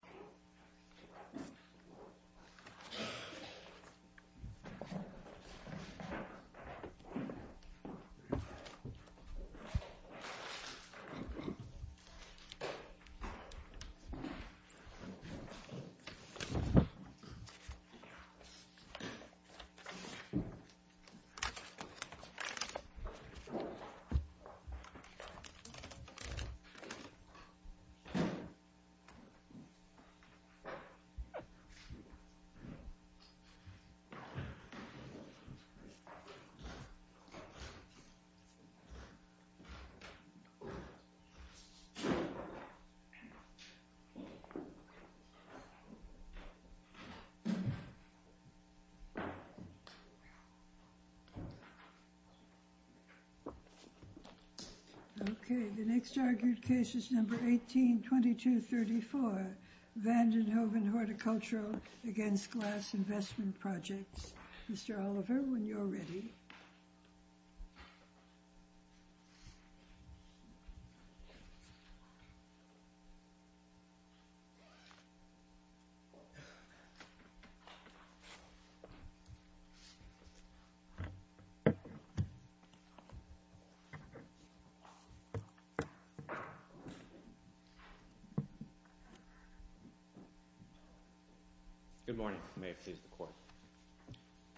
This video is a work of fiction. Any resemblance to actual people, living or dead, is coincidental and unintentional. This video is a work of fiction. Any resemblance to actual people, living or dead, is coincidental and unintentional. Van den Hoeven Horticultural v. Glass Investment Projects Mr. Oliver, when you're ready. Good morning. May it please the Court.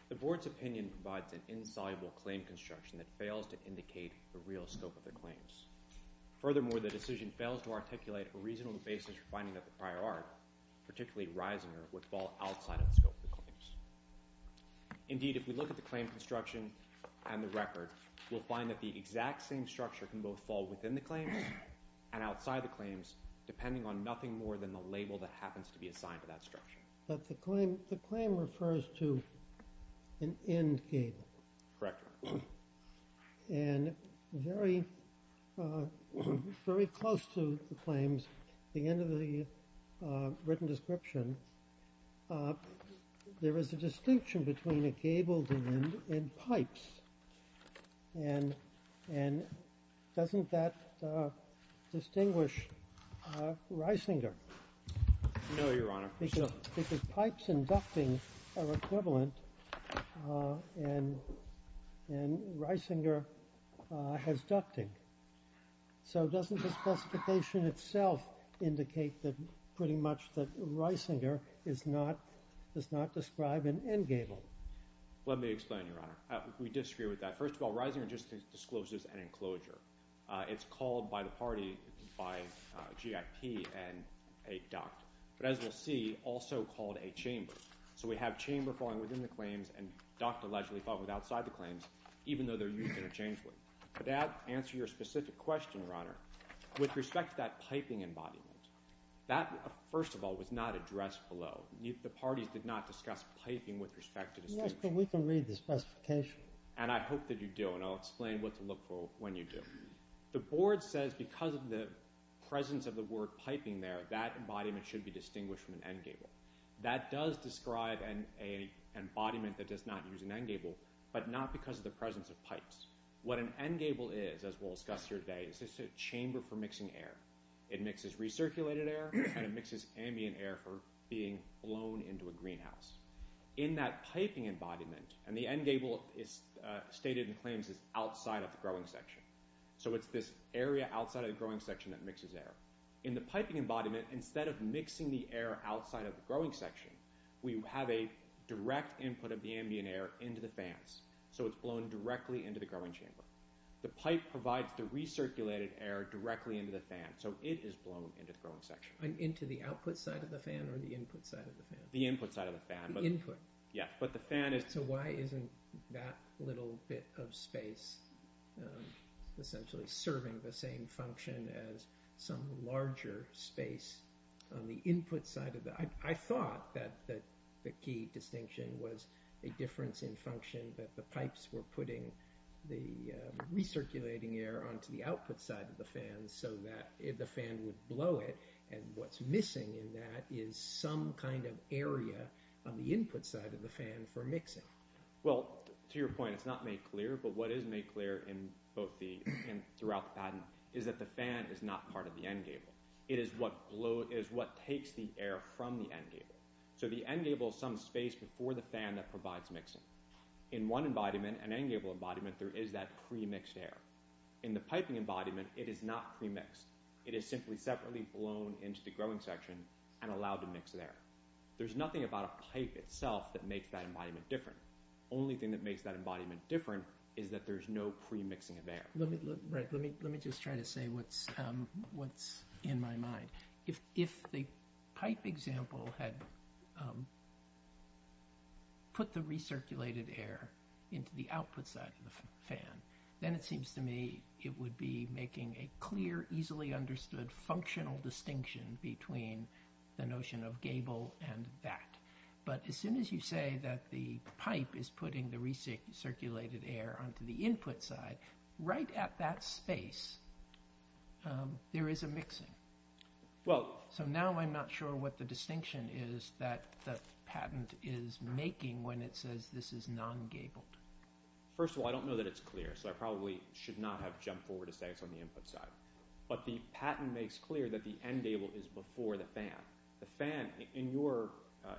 The Board's opinion provides an insoluble claim construction that fails to indicate the real scope of the claims. Furthermore, the decision fails to articulate a reasonable basis for finding that the prior art, particularly Reisinger, would fall outside of the scope of the claims. Indeed, if we look at the claim construction and the record, we'll find that the exact same structure can both fall within the claims and outside the claims, depending on nothing more than the label that happens to be assigned to that structure. But the claim refers to an end gable. Correct. And very close to the claims, the end of the written description, there is a distinction between a gabled end and pipes. And doesn't that distinguish Reisinger? No, Your Honor. Because pipes and ducting are equivalent, and Reisinger has ducting. So doesn't the specification itself indicate pretty much that Reisinger does not describe an end gable? Let me explain, Your Honor. We disagree with that. First of all, Reisinger just discloses an enclosure. It's called by the party, by GIP, a duct. But as we'll see, also called a chamber. So we have chamber falling within the claims and duct allegedly falling outside the claims, even though they're used interchangeably. But to answer your specific question, Your Honor, with respect to that piping embodiment, that, first of all, was not addressed below. The parties did not discuss piping with respect to distinction. Yes, but we can read the specification. And I hope that you do, and I'll explain what to look for when you do. The board says because of the presence of the word piping there, that embodiment should be distinguished from an end gable. That does describe an embodiment that does not use an end gable, but not because of the presence of pipes. What an end gable is, as we'll discuss here today, is it's a chamber for mixing air. It mixes recirculated air, and it mixes ambient air for being blown into a greenhouse. In that piping embodiment, and the end gable is stated in claims as outside of the growing section, so it's this area outside of the growing section that mixes air. In the piping embodiment, instead of mixing the air outside of the growing section, we have a direct input of the ambient air into the fans, so it's blown directly into the growing chamber. The pipe provides the recirculated air directly into the fan, so it is blown into the growing section. Into the output side of the fan or the input side of the fan? The input side of the fan. The input. Yeah, but the fan is— So why isn't that little bit of space essentially serving the same function as some larger space on the input side of the— I thought that the key distinction was a difference in function, that the pipes were putting the recirculating air onto the output side of the fan so that the fan would blow it, and what's missing in that is some kind of area on the input side of the fan for mixing. Well, to your point, it's not made clear, but what is made clear throughout the patent is that the fan is not part of the end gable. It is what takes the air from the end gable. So the end gable is some space before the fan that provides mixing. In one embodiment, an end gable embodiment, there is that premixed air. In the piping embodiment, it is not premixed. It is simply separately blown into the growing section and allowed to mix there. There's nothing about a pipe itself that makes that embodiment different. The only thing that makes that embodiment different is that there's no premixing of air. Let me just try to say what's in my mind. If the pipe example had put the recirculated air into the output side of the fan, then it seems to me it would be making a clear, easily understood functional distinction between the notion of gable and that. But as soon as you say that the pipe is putting the recirculated air onto the input side, right at that space, there is a mixing. So now I'm not sure what the distinction is that the patent is making when it says this is non-gabled. First of all, I don't know that it's clear, so I probably should not have jumped forward to say it's on the input side. But the patent makes clear that the end gable is before the fan. The fan, in your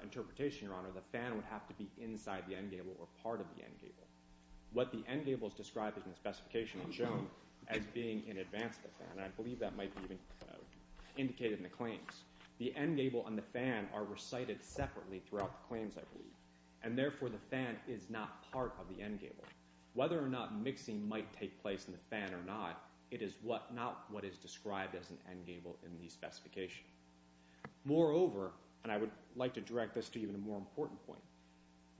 interpretation, Your Honor, the fan would have to be inside the end gable or part of the end gable. What the end gable is described in the specification and shown as being in advance of the fan, and I believe that might be even indicated in the claims, the end gable and the fan are recited separately throughout the claims, I believe. And therefore the fan is not part of the end gable. Whether or not mixing might take place in the fan or not, it is not what is described as an end gable in the specification. Moreover, and I would like to direct this to even a more important point,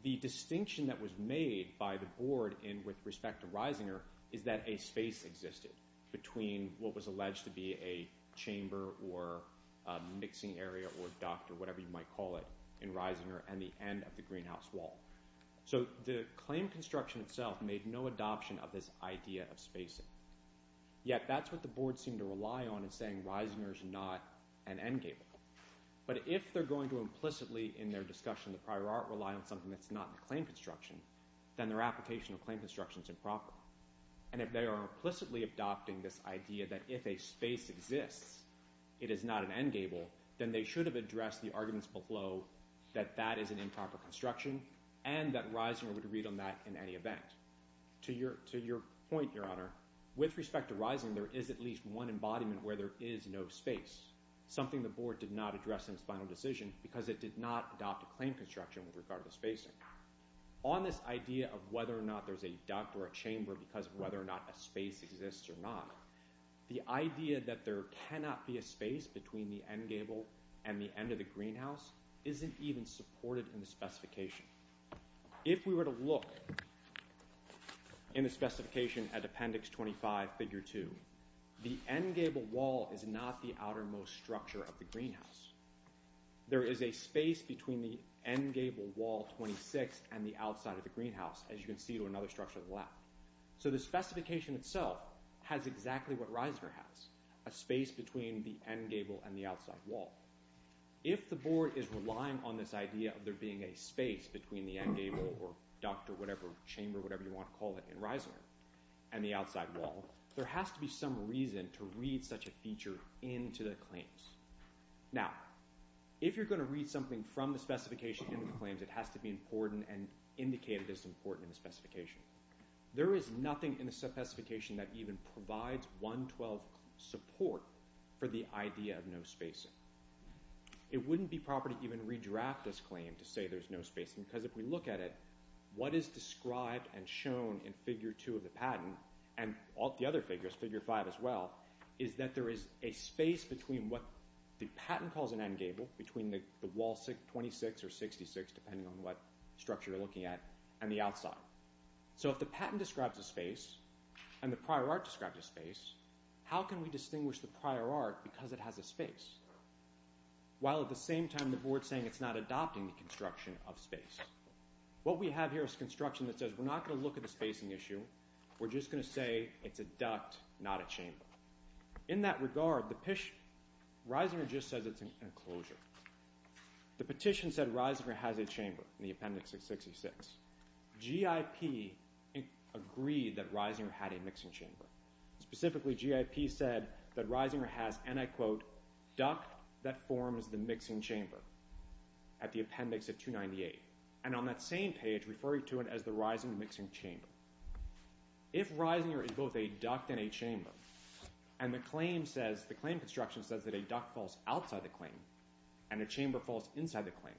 the distinction that was made by the board with respect to Reisinger is that a space existed between what was alleged to be a chamber or mixing area or duct or whatever you might call it in Reisinger and the end of the greenhouse wall. So the claim construction itself made no adoption of this idea of spacing. Yet that's what the board seemed to rely on in saying Reisinger is not an end gable. But if they're going to implicitly in their discussion of the prior art rely on something that's not in the claim construction, then their application of claim construction is improper. And if they are implicitly adopting this idea that if a space exists, it is not an end gable, then they should have addressed the arguments below that that is an improper construction and that Reisinger would read on that in any event. To your point, Your Honor, with respect to Reisinger, there is at least one embodiment where there is no space, something the board did not address in its final decision because it did not adopt a claim construction with regard to spacing. On this idea of whether or not there's a duct or a chamber because of whether or not a space exists or not, the idea that there cannot be a space between the end gable and the end of the greenhouse isn't even supported in the specification. If we were to look in the specification at Appendix 25, Figure 2, the end gable wall is not the outermost structure of the greenhouse. There is a space between the end gable wall 26 and the outside of the greenhouse, as you can see to another structure on the left. So the specification itself has exactly what Reisinger has, a space between the end gable and the outside wall. If the board is relying on this idea of there being a space between the end gable or duct or whatever chamber, whatever you want to call it, in Reisinger and the outside wall, there has to be some reason to read such a feature into the claims. Now, if you're going to read something from the specification into the claims, it has to be important and indicated as important in the specification. There is nothing in the specification that even provides 112 support for the idea of no spacing. It wouldn't be proper to even redraft this claim to say there's no spacing because if we look at it, what is described and shown in Figure 2 of the patent and the other figures, Figure 5 as well, is that there is a space between what the patent calls an end gable, between the wall 26 or 66, depending on what structure you're looking at, and the outside. So if the patent describes a space and the prior art describes a space, how can we distinguish the prior art because it has a space while at the same time the board is saying it's not adopting the construction of space? What we have here is construction that says we're not going to look at the spacing issue, we're just going to say it's a duct, not a chamber. In that regard, Reisinger just says it's an enclosure. The petition said Reisinger has a chamber in the Appendix 666. GIP agreed that Reisinger had a mixing chamber. Specifically, GIP said that Reisinger has, and I quote, duct that forms the mixing chamber at the Appendix 298. And on that same page referring to it as the Reisinger mixing chamber. If Reisinger is both a duct and a chamber and the claim construction says that a duct falls outside the claim and a chamber falls inside the claim,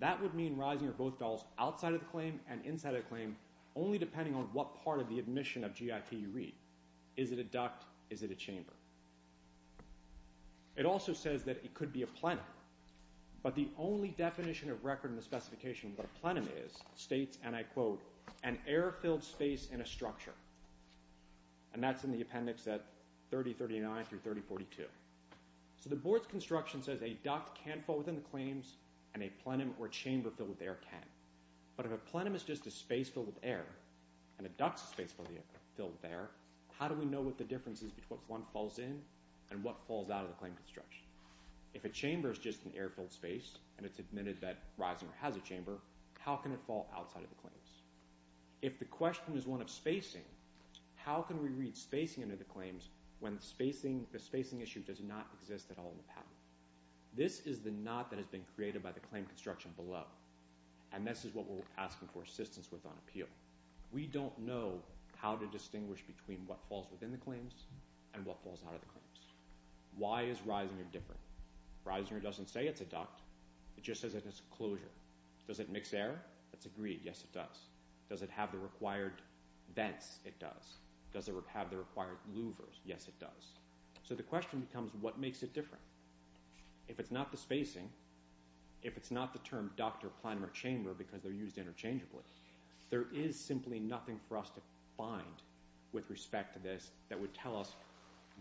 that would mean Reisinger both falls outside of the claim and inside of the claim only depending on what part of the admission of GIP you read. Is it a duct? Is it a chamber? It also says that it could be a plenum. But the only definition of record in the specification of what a plenum is states, and I quote, an air-filled space in a structure. And that's in the appendix at 3039 through 3042. So the board's construction says a duct can't fall within the claims and a plenum or chamber filled with air can. But if a plenum is just a space filled with air and a duct's a space filled with air, how do we know what the difference is between what one falls in and what falls out of the claim construction? If a chamber is just an air-filled space and it's admitted that Reisinger has a chamber, how can it fall outside of the claims? If the question is one of spacing, how can we read spacing into the claims when the spacing issue does not exist at all in the patent? This is the knot that has been created by the claim construction below, and this is what we're asking for assistance with on appeal. We don't know how to distinguish between what falls within the claims and what falls out of the claims. Why is Reisinger different? Reisinger doesn't say it's a duct. It just says that it's a closure. Does it mix air? That's agreed. Yes, it does. Does it have the required vents? It does. Does it have the required louvers? Yes, it does. So the question becomes what makes it different? If it's not the spacing, if it's not the term duct or plenum or chamber because they're used interchangeably, there is simply nothing for us to find with respect to this that would tell us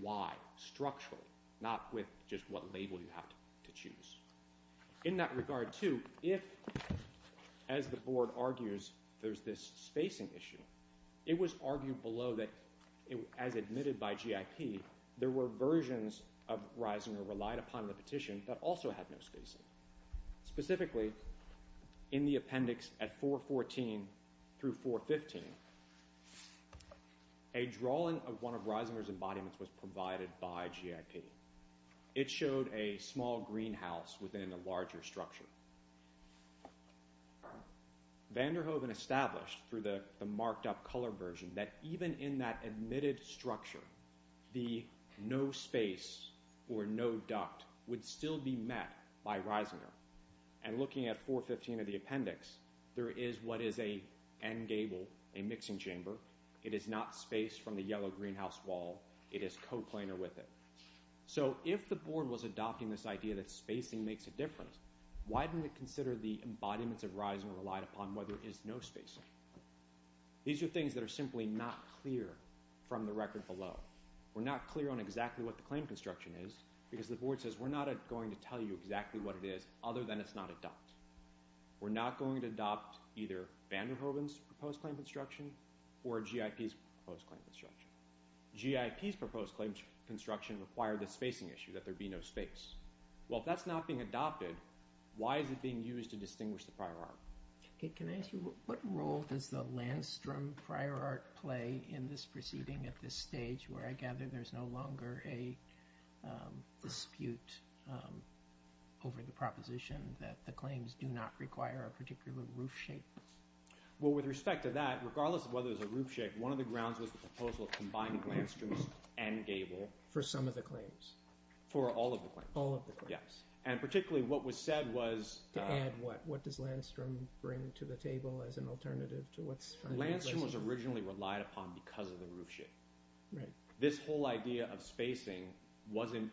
why structurally, not with just what label you have to choose. In that regard, too, if, as the Board argues, there's this spacing issue, it was argued below that, as admitted by GIP, there were versions of Reisinger relied upon in the petition that also had no spacing. Specifically, in the appendix at 414 through 415, a drawing of one of Reisinger's embodiments was provided by GIP. It showed a small greenhouse within a larger structure. Vanderhoeven established through the marked-up color version that even in that admitted structure, the no space or no duct would still be met by Reisinger. And looking at 415 of the appendix, there is what is an end gable, a mixing chamber. It is not spaced from the yellow greenhouse wall. It is coplanar with it. So if the Board was adopting this idea that spacing makes a difference, why didn't it consider the embodiments of Reisinger relied upon where there is no spacing? These are things that are simply not clear from the record below. We're not clear on exactly what the claim construction is because the Board says we're not going to tell you exactly what it is other than it's not a duct. We're not going to adopt either Vanderhoeven's proposed claim construction or GIP's proposed claim construction. GIP's proposed claim construction required the spacing issue, that there be no space. Well, if that's not being adopted, why is it being used to distinguish the prior art? Can I ask you what role does the Landstrom prior art play in this proceeding at this stage where I gather there's no longer a dispute over the proposition that the claims do not require a particular roof shape? Well, with respect to that, regardless of whether there's a roof shape, one of the grounds was the proposal of combining Landstrom's and Gable. For some of the claims? For all of the claims. All of the claims. And particularly what was said was... To add what? What does Landstrom bring to the table as an alternative to what's... Landstrom was originally relied upon because of the roof shape. Right. This whole idea of spacing wasn't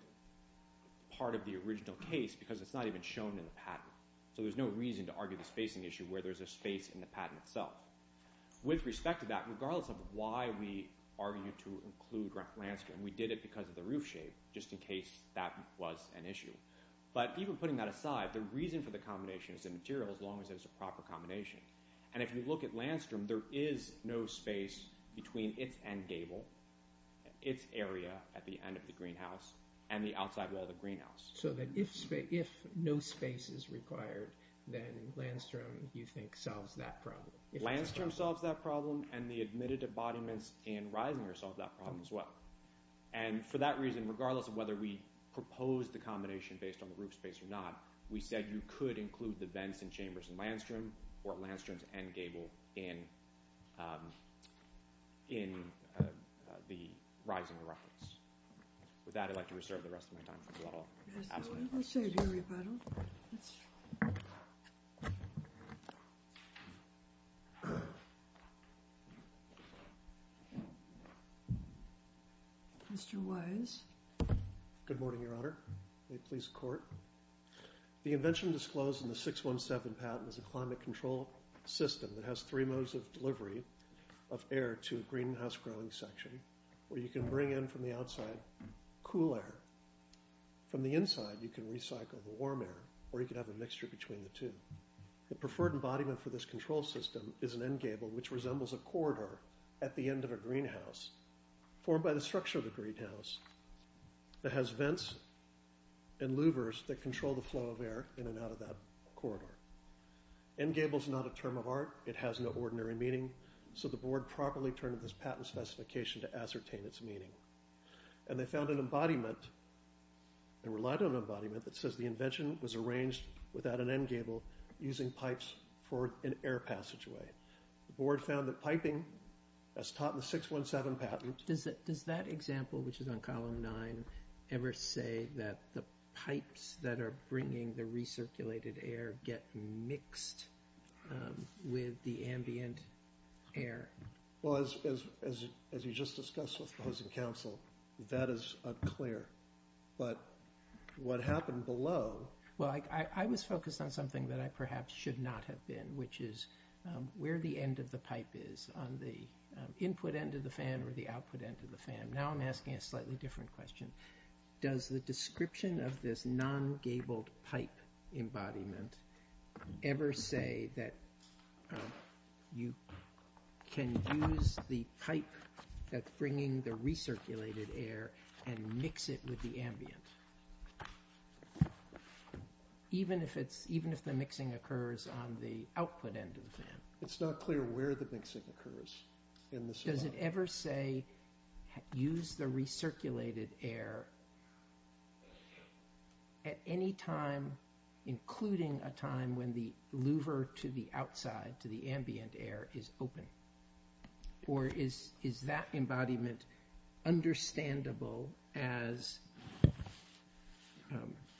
part of the original case because it's not even shown in the patent. So there's no reason to argue the spacing issue where there's a space in the patent itself. With respect to that, regardless of why we argued to include Landstrom, we did it because of the roof shape, just in case that was an issue. But even putting that aside, the reason for the combination is the material as long as it's a proper combination. And if you look at Landstrom, there is no space between its end Gable, its area at the end of the greenhouse, and the outside wall of the greenhouse. So that if no space is required, then Landstrom, you think, solves that problem. Landstrom solves that problem, and the admitted embodiments in Risinger solve that problem as well. And for that reason, regardless of whether we proposed the combination based on the roof space or not, we said you could include the vents and chambers in Landstrom or Landstrom's end Gable in the Risinger reference. With that, I'd like to reserve the rest of my time. Mr. Wise. Good morning, Your Honor. May it please the Court. The invention disclosed in the 617 patent is a climate control system that has three modes of delivery of air to a greenhouse growing section where you can bring in from the outside cool air. From the inside, you can recycle the warm air or you can have a mixture between the two. The preferred embodiment for this control system is an end Gable which resembles a corridor at the end of a greenhouse formed by the structure of the greenhouse that has vents and louvers that control the flow of air in and out of that corridor. End Gable is not a term of art. It has no ordinary meaning. So the Board properly turned this patent specification to ascertain its meaning. And they found an embodiment and relied on an embodiment that says the invention was arranged without an end Gable using pipes for an air passageway. The Board found that piping, as taught in the 617 patent... Does that example, which is on Column 9, ever say that the pipes that are bringing the recirculated air get mixed with the ambient air? Well, as you just discussed with opposing counsel, that is unclear. But what happened below... Well, I was focused on something that I perhaps should not have been, which is where the end of the pipe is on the input end of the fan or the output end of the fan. Now I'm asking a slightly different question. Does the description of this non-Gable pipe embodiment ever say that you can use the pipe that's bringing the recirculated air and mix it with the ambient? Even if the mixing occurs on the output end of the fan. It's not clear where the mixing occurs. Does it ever say use the recirculated air at any time, including a time when the louver to the outside, to the ambient air, is open? Or is that embodiment understandable as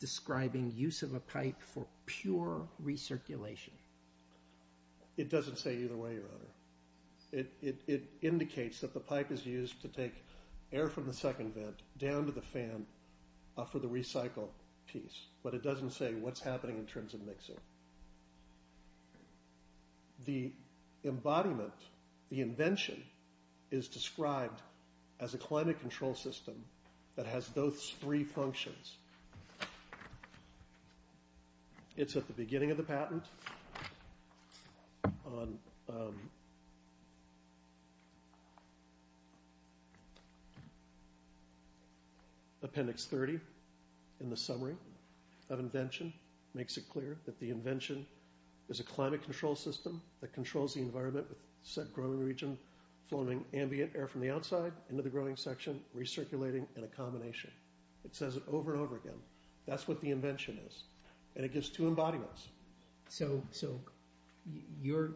describing use of a pipe for pure recirculation? It doesn't say either way, Your Honor. It indicates that the pipe is used to take air from the second vent down to the fan for the recycle piece. But it doesn't say what's happening in terms of mixing. The embodiment, the invention, is described as a climate control system that has those three functions. It's at the beginning of the patent. On appendix 30 in the summary of invention, makes it clear that the invention is a climate control system that controls the environment with said growing region flowing ambient air from the outside into the growing section, recirculating in a combination. It says it over and over again. That's what the invention is. And it gives two embodiments. So your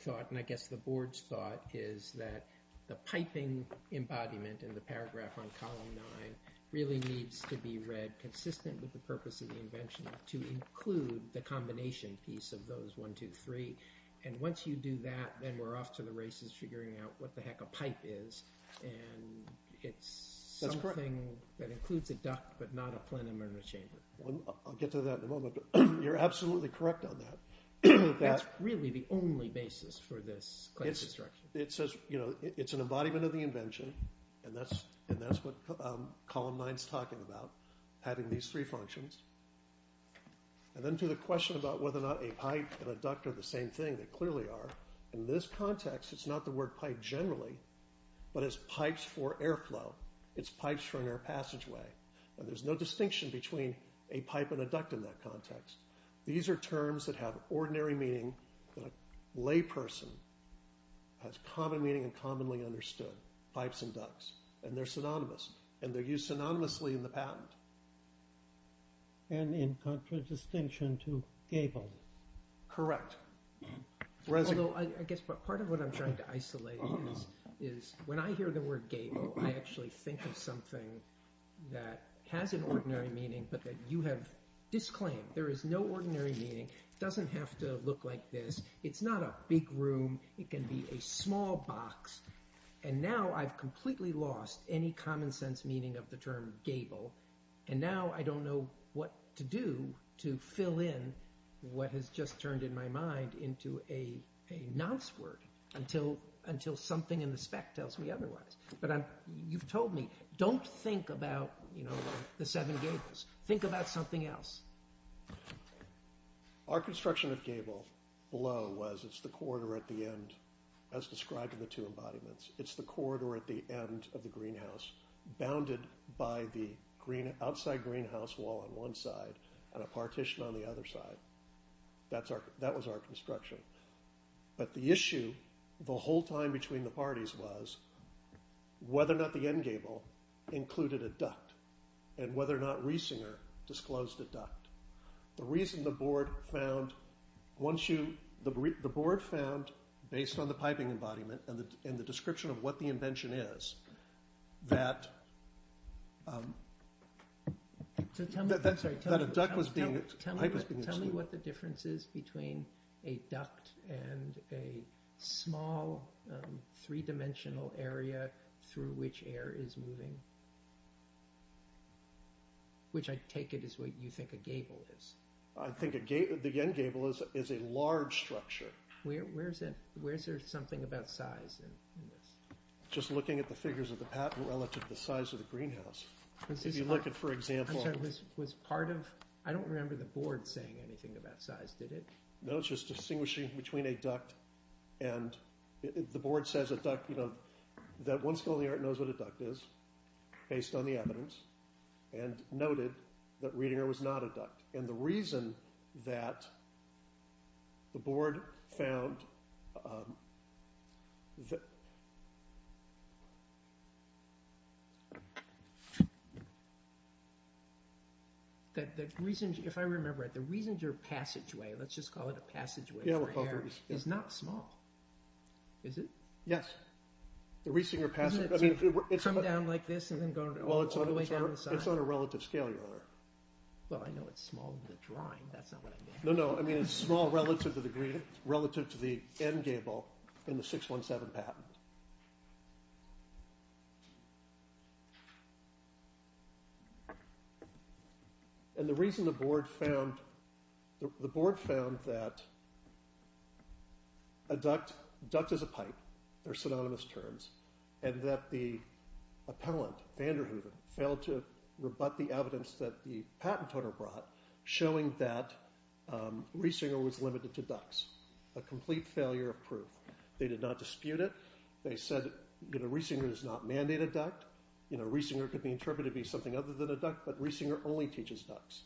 thought, and I guess the board's thought, is that the piping embodiment in the paragraph on column nine really needs to be read consistent with the purpose of the invention to include the combination piece of those one, two, three. And once you do that, then we're off to the races figuring out what the heck a pipe is. And it's something that includes a duct but not a plenum or a chamber. I'll get to that in a moment, but you're absolutely correct on that. That's really the only basis for this climate construction. It's an embodiment of the invention, and that's what column nine's talking about, having these three functions. And then to the question about whether or not a pipe and a duct are the same thing, they clearly are. In this context, it's not the word pipe generally, but it's pipes for airflow. It's pipes for an air passageway. And there's no distinction between a pipe and a duct in that context. These are terms that have ordinary meaning that a layperson has common meaning and commonly understood, pipes and ducts. And they're synonymous, and they're used synonymously in the patent. And in contradistinction to gable. Correct. Although I guess part of what I'm trying to isolate is when I hear the word gable, I actually think of something that has an ordinary meaning, but that you have disclaimed. There is no ordinary meaning. It doesn't have to look like this. It's not a big room. It can be a small box. And now I've completely lost any common sense meaning of the term gable. And now I don't know what to do to fill in what has just turned in my mind into a nonce word until something in the spec tells me otherwise. But you've told me, don't think about the seven gables. Think about something else. Our construction of gable below was it's the corridor at the end, as described in the two embodiments. It's the corridor at the end of the greenhouse bounded by the outside greenhouse wall on one side and a partition on the other side. That was our construction. But the issue the whole time between the parties was whether or not the end gable included a duct and whether or not Riesinger disclosed a duct. The reason the board found, once you, the board found, based on the piping embodiment and the description of what the invention is, that a duct was being, tell me what the difference is between a duct and a small three-dimensional area through which air is moving, which I take it is what you think a gable is. I think the end gable is a large structure. Where's there something about size in this? Just looking at the figures of the patent relative to the size of the greenhouse. If you look at, for example, I'm sorry, was part of, I don't remember the board saying anything about size, did it? No, it's just distinguishing between a duct and the board says a duct, that one skill in the art knows what a duct is based on the evidence and noted that Riesinger was not a duct. And the reason that the board found... If I remember right, the Riesinger passageway, let's just call it a passageway for air, is not small. Is it? Yes. The Riesinger passageway... Doesn't it come down like this and then go all the way down the side? It's on a relative scale, your honor. Well, I know it's small in the drawing, that's not what I meant. No, no, I mean it's small relative to the end gable in the 617 patent. And the reason the board found, the board found that a duct, duct is a pipe, they're synonymous terms, and that the appellant, Vanderhoeven, failed to rebut the evidence that the patent owner brought showing that Riesinger was limited to ducts. A complete failure of proof. They did not dispute it. They said Riesinger does not mandate a duct. Riesinger could be interpreted to be something other than a duct, but Riesinger only teaches ducts.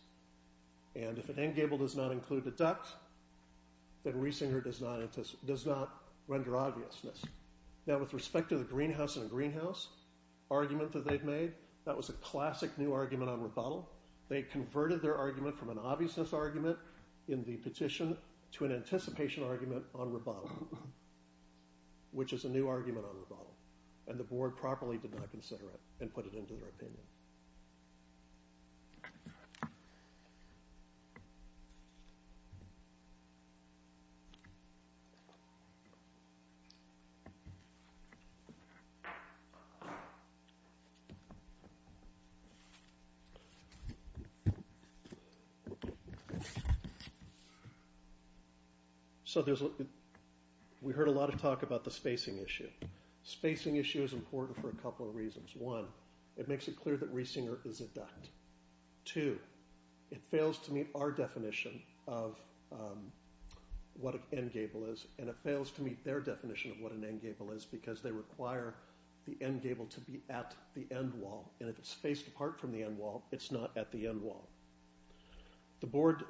And if an end gable does not include a duct, then Riesinger does not render obviousness. Now with respect to the greenhouse in a greenhouse, argument that they've made, that was a classic new argument on rebuttal. They converted their argument from an obviousness argument in the petition to an anticipation argument on rebuttal. Which is a new argument on rebuttal. And the board properly did not consider it and put it into their opinion. So we heard a lot of talk about the spacing issue. Spacing issue is important for a couple of reasons. One, it makes it clear that Riesinger is a duct. Two, it fails to meet our definition of what an end gable is, and it fails to meet their definition of what an end gable is because they require the end gable to be at the end wall. And if it's spaced apart from the end wall, it's not at the end wall. The board...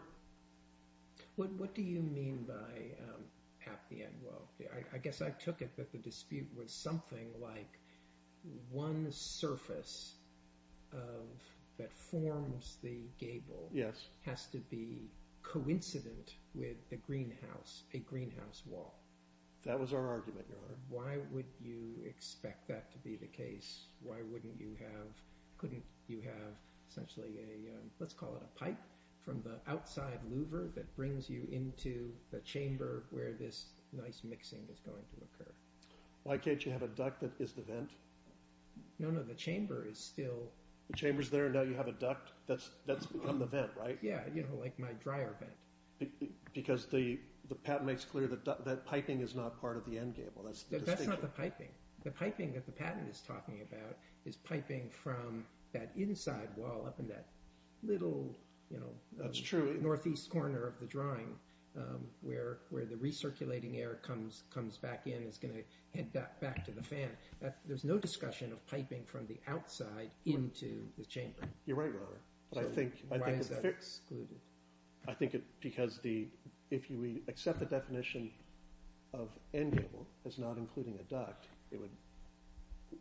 What do you mean by at the end wall? I guess I took it that the dispute was something like one surface that forms the gable has to be coincident with a greenhouse wall. That was our argument, Your Honor. Why would you expect that to be the case? Why wouldn't you have... Couldn't you have essentially a... Let's call it a pipe from the outside louver that brings you into the chamber where this nice mixing is going to occur? Why can't you have a duct that is the vent? No, no, the chamber is still... The chamber's there and now you have a duct that's become the vent, right? Yeah, you know, like my dryer vent. Because the patent makes clear that piping is not part of the end gable. That's the distinction. That's not the piping. The piping that the patent is talking about is piping from that inside wall up in that little... That's true. ...northeast corner of the drawing where the recirculating air comes back in and is going to head back to the fan. There's no discussion of piping from the outside into the chamber. You're right, Your Honor. Why is that excluded? I think because if you accept the definition of end gable as not including a duct, it would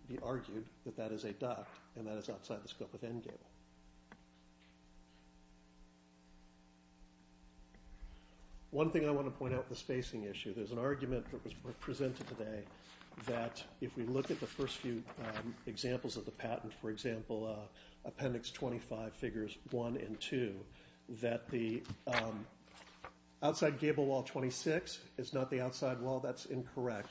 be argued that that is a duct and that it's outside the scope of end gable. One thing I want to point out with the spacing issue, there's an argument that was presented today that if we look at the first few examples of the patent, for example, Appendix 25, Figures 1 and 2, that the outside gable wall, 26, is not the outside wall. That's incorrect.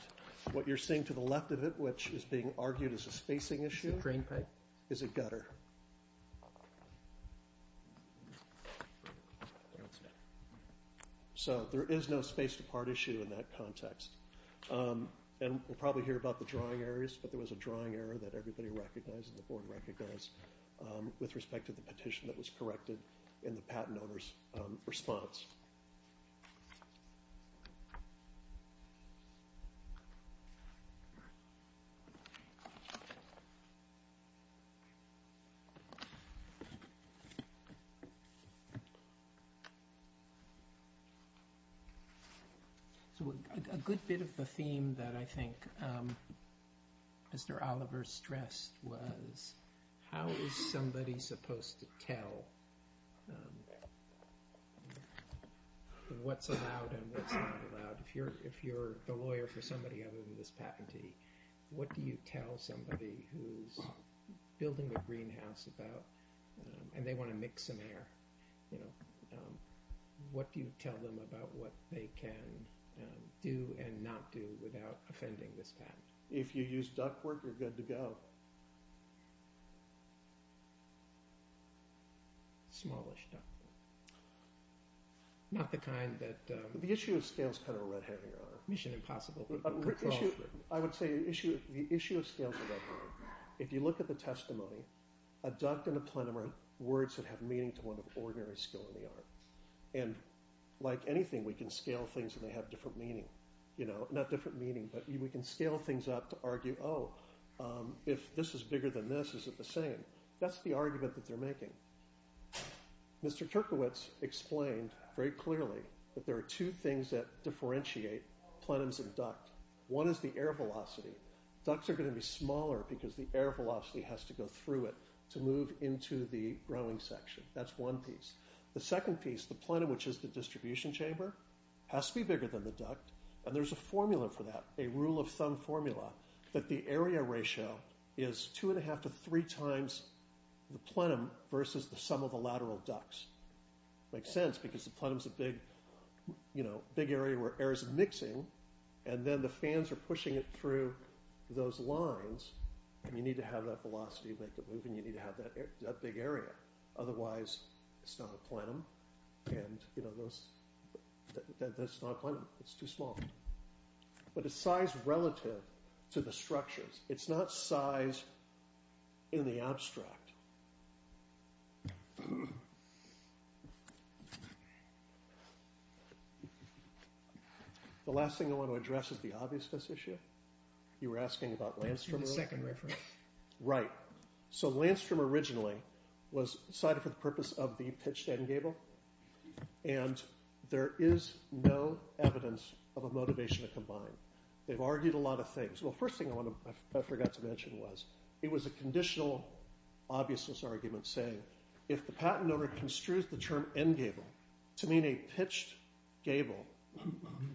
What you're seeing to the left of it, which is being argued as a spacing issue... The drain pipe. ...is a gutter. So there is no space-to-part issue in that context. And we'll probably hear about the drawing errors, but there was a drawing error that everybody recognized and the board recognized with respect to the petition that was corrected in the patent owner's response. So a good bit of the theme that I think Mr. Oliver stressed was how is somebody supposed to tell what's allowed and what's not allowed? If you're a lawyer for somebody other than this patentee, what do you tell somebody who's building a greenhouse about... and they want to mix some air, you know, what do you tell them about what they can do and not do without offending this patent? If you use ductwork, you're good to go. Smallish ductwork. Not the kind that... The issue of scale is kind of a red herring. Mission impossible. I would say the issue of scale is a red herring. If you look at the testimony, a duct and a plenum are words that have meaning to one of ordinary skill in the art. And like anything, we can scale things and they have different meaning. You know, not different meaning, but we can scale things up to argue, oh, if this is bigger than this, is it the same? That's the argument that they're making. Mr. Turkowitz explained very clearly that there are two things that differentiate plenums and duct. One is the air velocity. Ducts are going to be smaller because the air velocity has to go through it to move into the growing section. That's one piece. The second piece, the plenum, which is the distribution chamber, has to be bigger than the duct. And there's a formula for that, a rule of thumb formula that the area ratio is two and a half to three times the plenum versus the sum of the lateral ducts. Makes sense because the plenum's a big, you know, big area where air is mixing and then the fans are pushing it through those lines and you need to have that velocity to make it move and you need to have that big area. Otherwise, it's not a plenum. And, you know, that's not a plenum. It's too small. But it's size relative to the structures. It's not size in the abstract. The last thing I want to address is the obviousness issue. You were asking about Landstrom? The second reference. Right. So Landstrom originally was decided for the purpose of the pitched end gable. And there is no evidence of a motivation to combine. They've argued a lot of things. Well, the first thing I forgot to mention was it was a conditional obviousness argument saying if the patent owner construes the term end gable to mean a pitched gable,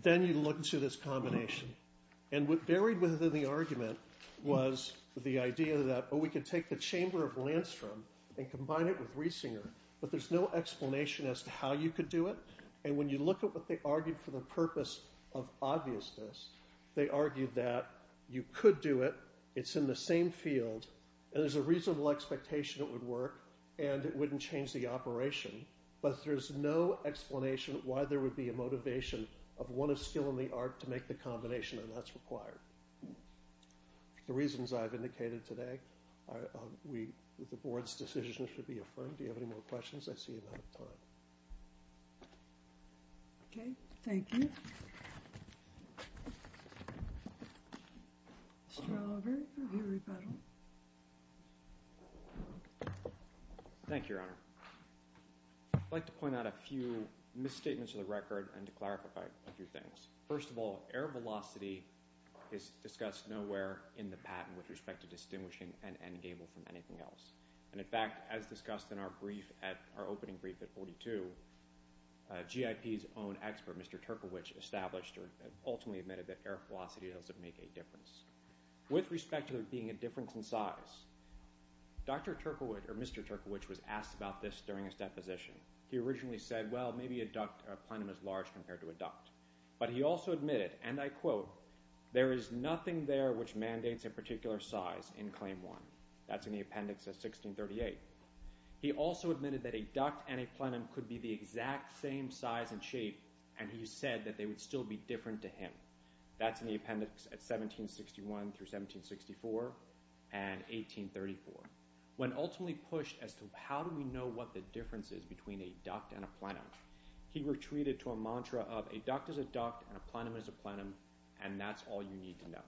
then you look to this combination. And what varied within the argument was the idea that we could take the chamber of Landstrom and combine it with Riesinger. But there's no explanation as to how you could do it. And when you look at what they argued for the purpose of obviousness, they argued that you could do it. It's in the same field. And there's a reasonable expectation it would work. And it wouldn't change the operation. But there's no explanation why there would be a motivation of one of skill and the art to make the combination. And that's required. The reasons I've indicated today, the board's decision should be affirmed. Do you have any more questions? I see you're out of time. Okay, thank you. Mr. Oliver, your rebuttal. Thank you, Your Honor. I'd like to point out a few misstatements of the record and to clarify a few things. First of all, air velocity is discussed nowhere in the patent with respect to distinguishing an end gable from anything else. And in fact, as discussed in our brief at our opening brief at 42, GIP's own expert, Mr. Terkelwich, established or ultimately admitted that air velocity doesn't make a difference with respect to there being a difference in size. Dr. Terkelwich, or Mr. Terkelwich, was asked about this during his deposition. He originally said, well, maybe a duct or a plenum is large compared to a duct. But he also admitted, and I quote, there is nothing there which mandates a particular size in Claim 1. That's in the appendix at 1638. He also admitted that a duct and a plenum could be the exact same size and shape, and he said that they would still be different to him. That's in the appendix at 1761 through 1764 and 1834. When ultimately pushed as to how do we know what the difference is between a duct and a plenum, he retreated to a mantra of a duct is a duct and a plenum is a plenum and that's all you need to know.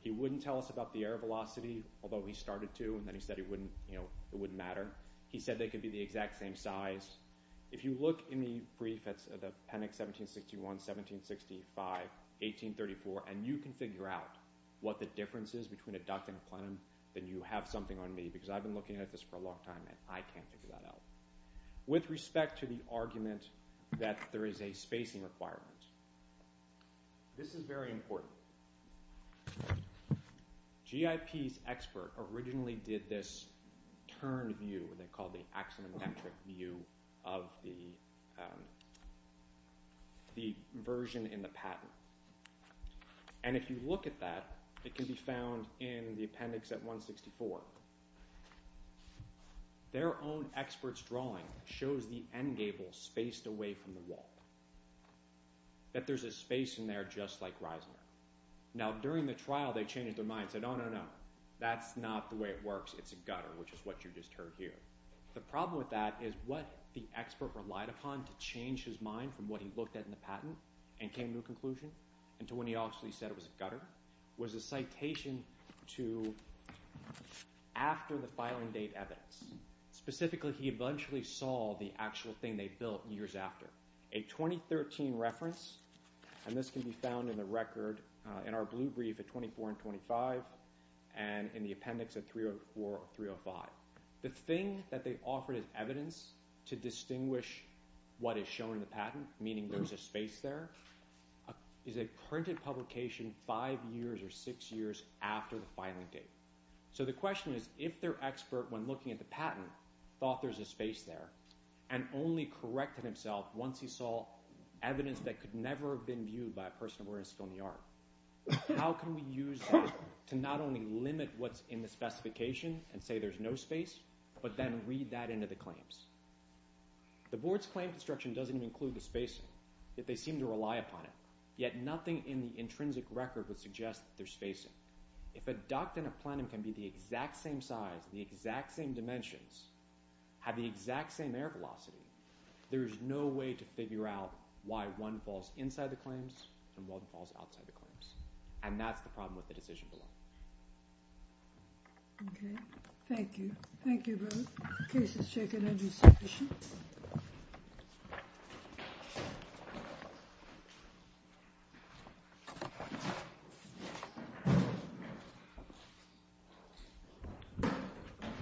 He wouldn't tell us about the air velocity, although he started to, and then he said it wouldn't matter. He said they could be the exact same size. If you look in the brief at appendix 1761, 1765, 1834, and you can figure out what the difference is between a duct and a plenum, then you have something on me, because I've been looking at this for a long time and I can't figure that out. With respect to the argument that there is a spacing requirement, this is very important. G.I.P.'s expert originally did this turn view, what they called the axonometric view of the version in the pattern, and if you look at that, it can be found in the appendix at 164. Their own expert's drawing shows the end gable spaced away from the wall, that there's a space in there just like Reisner. Now, during the trial, they changed their minds. They said, no, no, no, that's not the way it works. It's a gutter, which is what you just heard here. The problem with that is what the expert relied upon to change his mind from what he looked at in the patent and came to a conclusion, until when he actually said it was a gutter, was a citation to after the filing date evidence. Specifically, he eventually saw the actual thing they built years after. A 2013 reference, and this can be found in the record, in our blue brief at 24 and 25, and in the appendix at 304 or 305. The thing that they offered as evidence to distinguish what is shown in the patent, meaning there's a space there, is a printed publication five years or six years after the filing date. So the question is, if their expert, when looking at the patent, thought there's a space there, and only corrected himself once he saw evidence that could never have been viewed by a person who was still in the yard, how can we use that to not only limit what's in the specification and say there's no space, but then read that into the claims? The board's claim construction doesn't include the spacing, yet they seem to rely upon it, yet nothing in the intrinsic record would suggest that there's spacing. If a duct and a plenum can be the exact same size, the exact same dimensions, have the exact same air velocity, there is no way to figure out why one falls inside the claims and one falls outside the claims. And that's the problem with the decision below. Okay. Thank you. Thank you both. The case is taken under suspicion. Thank you.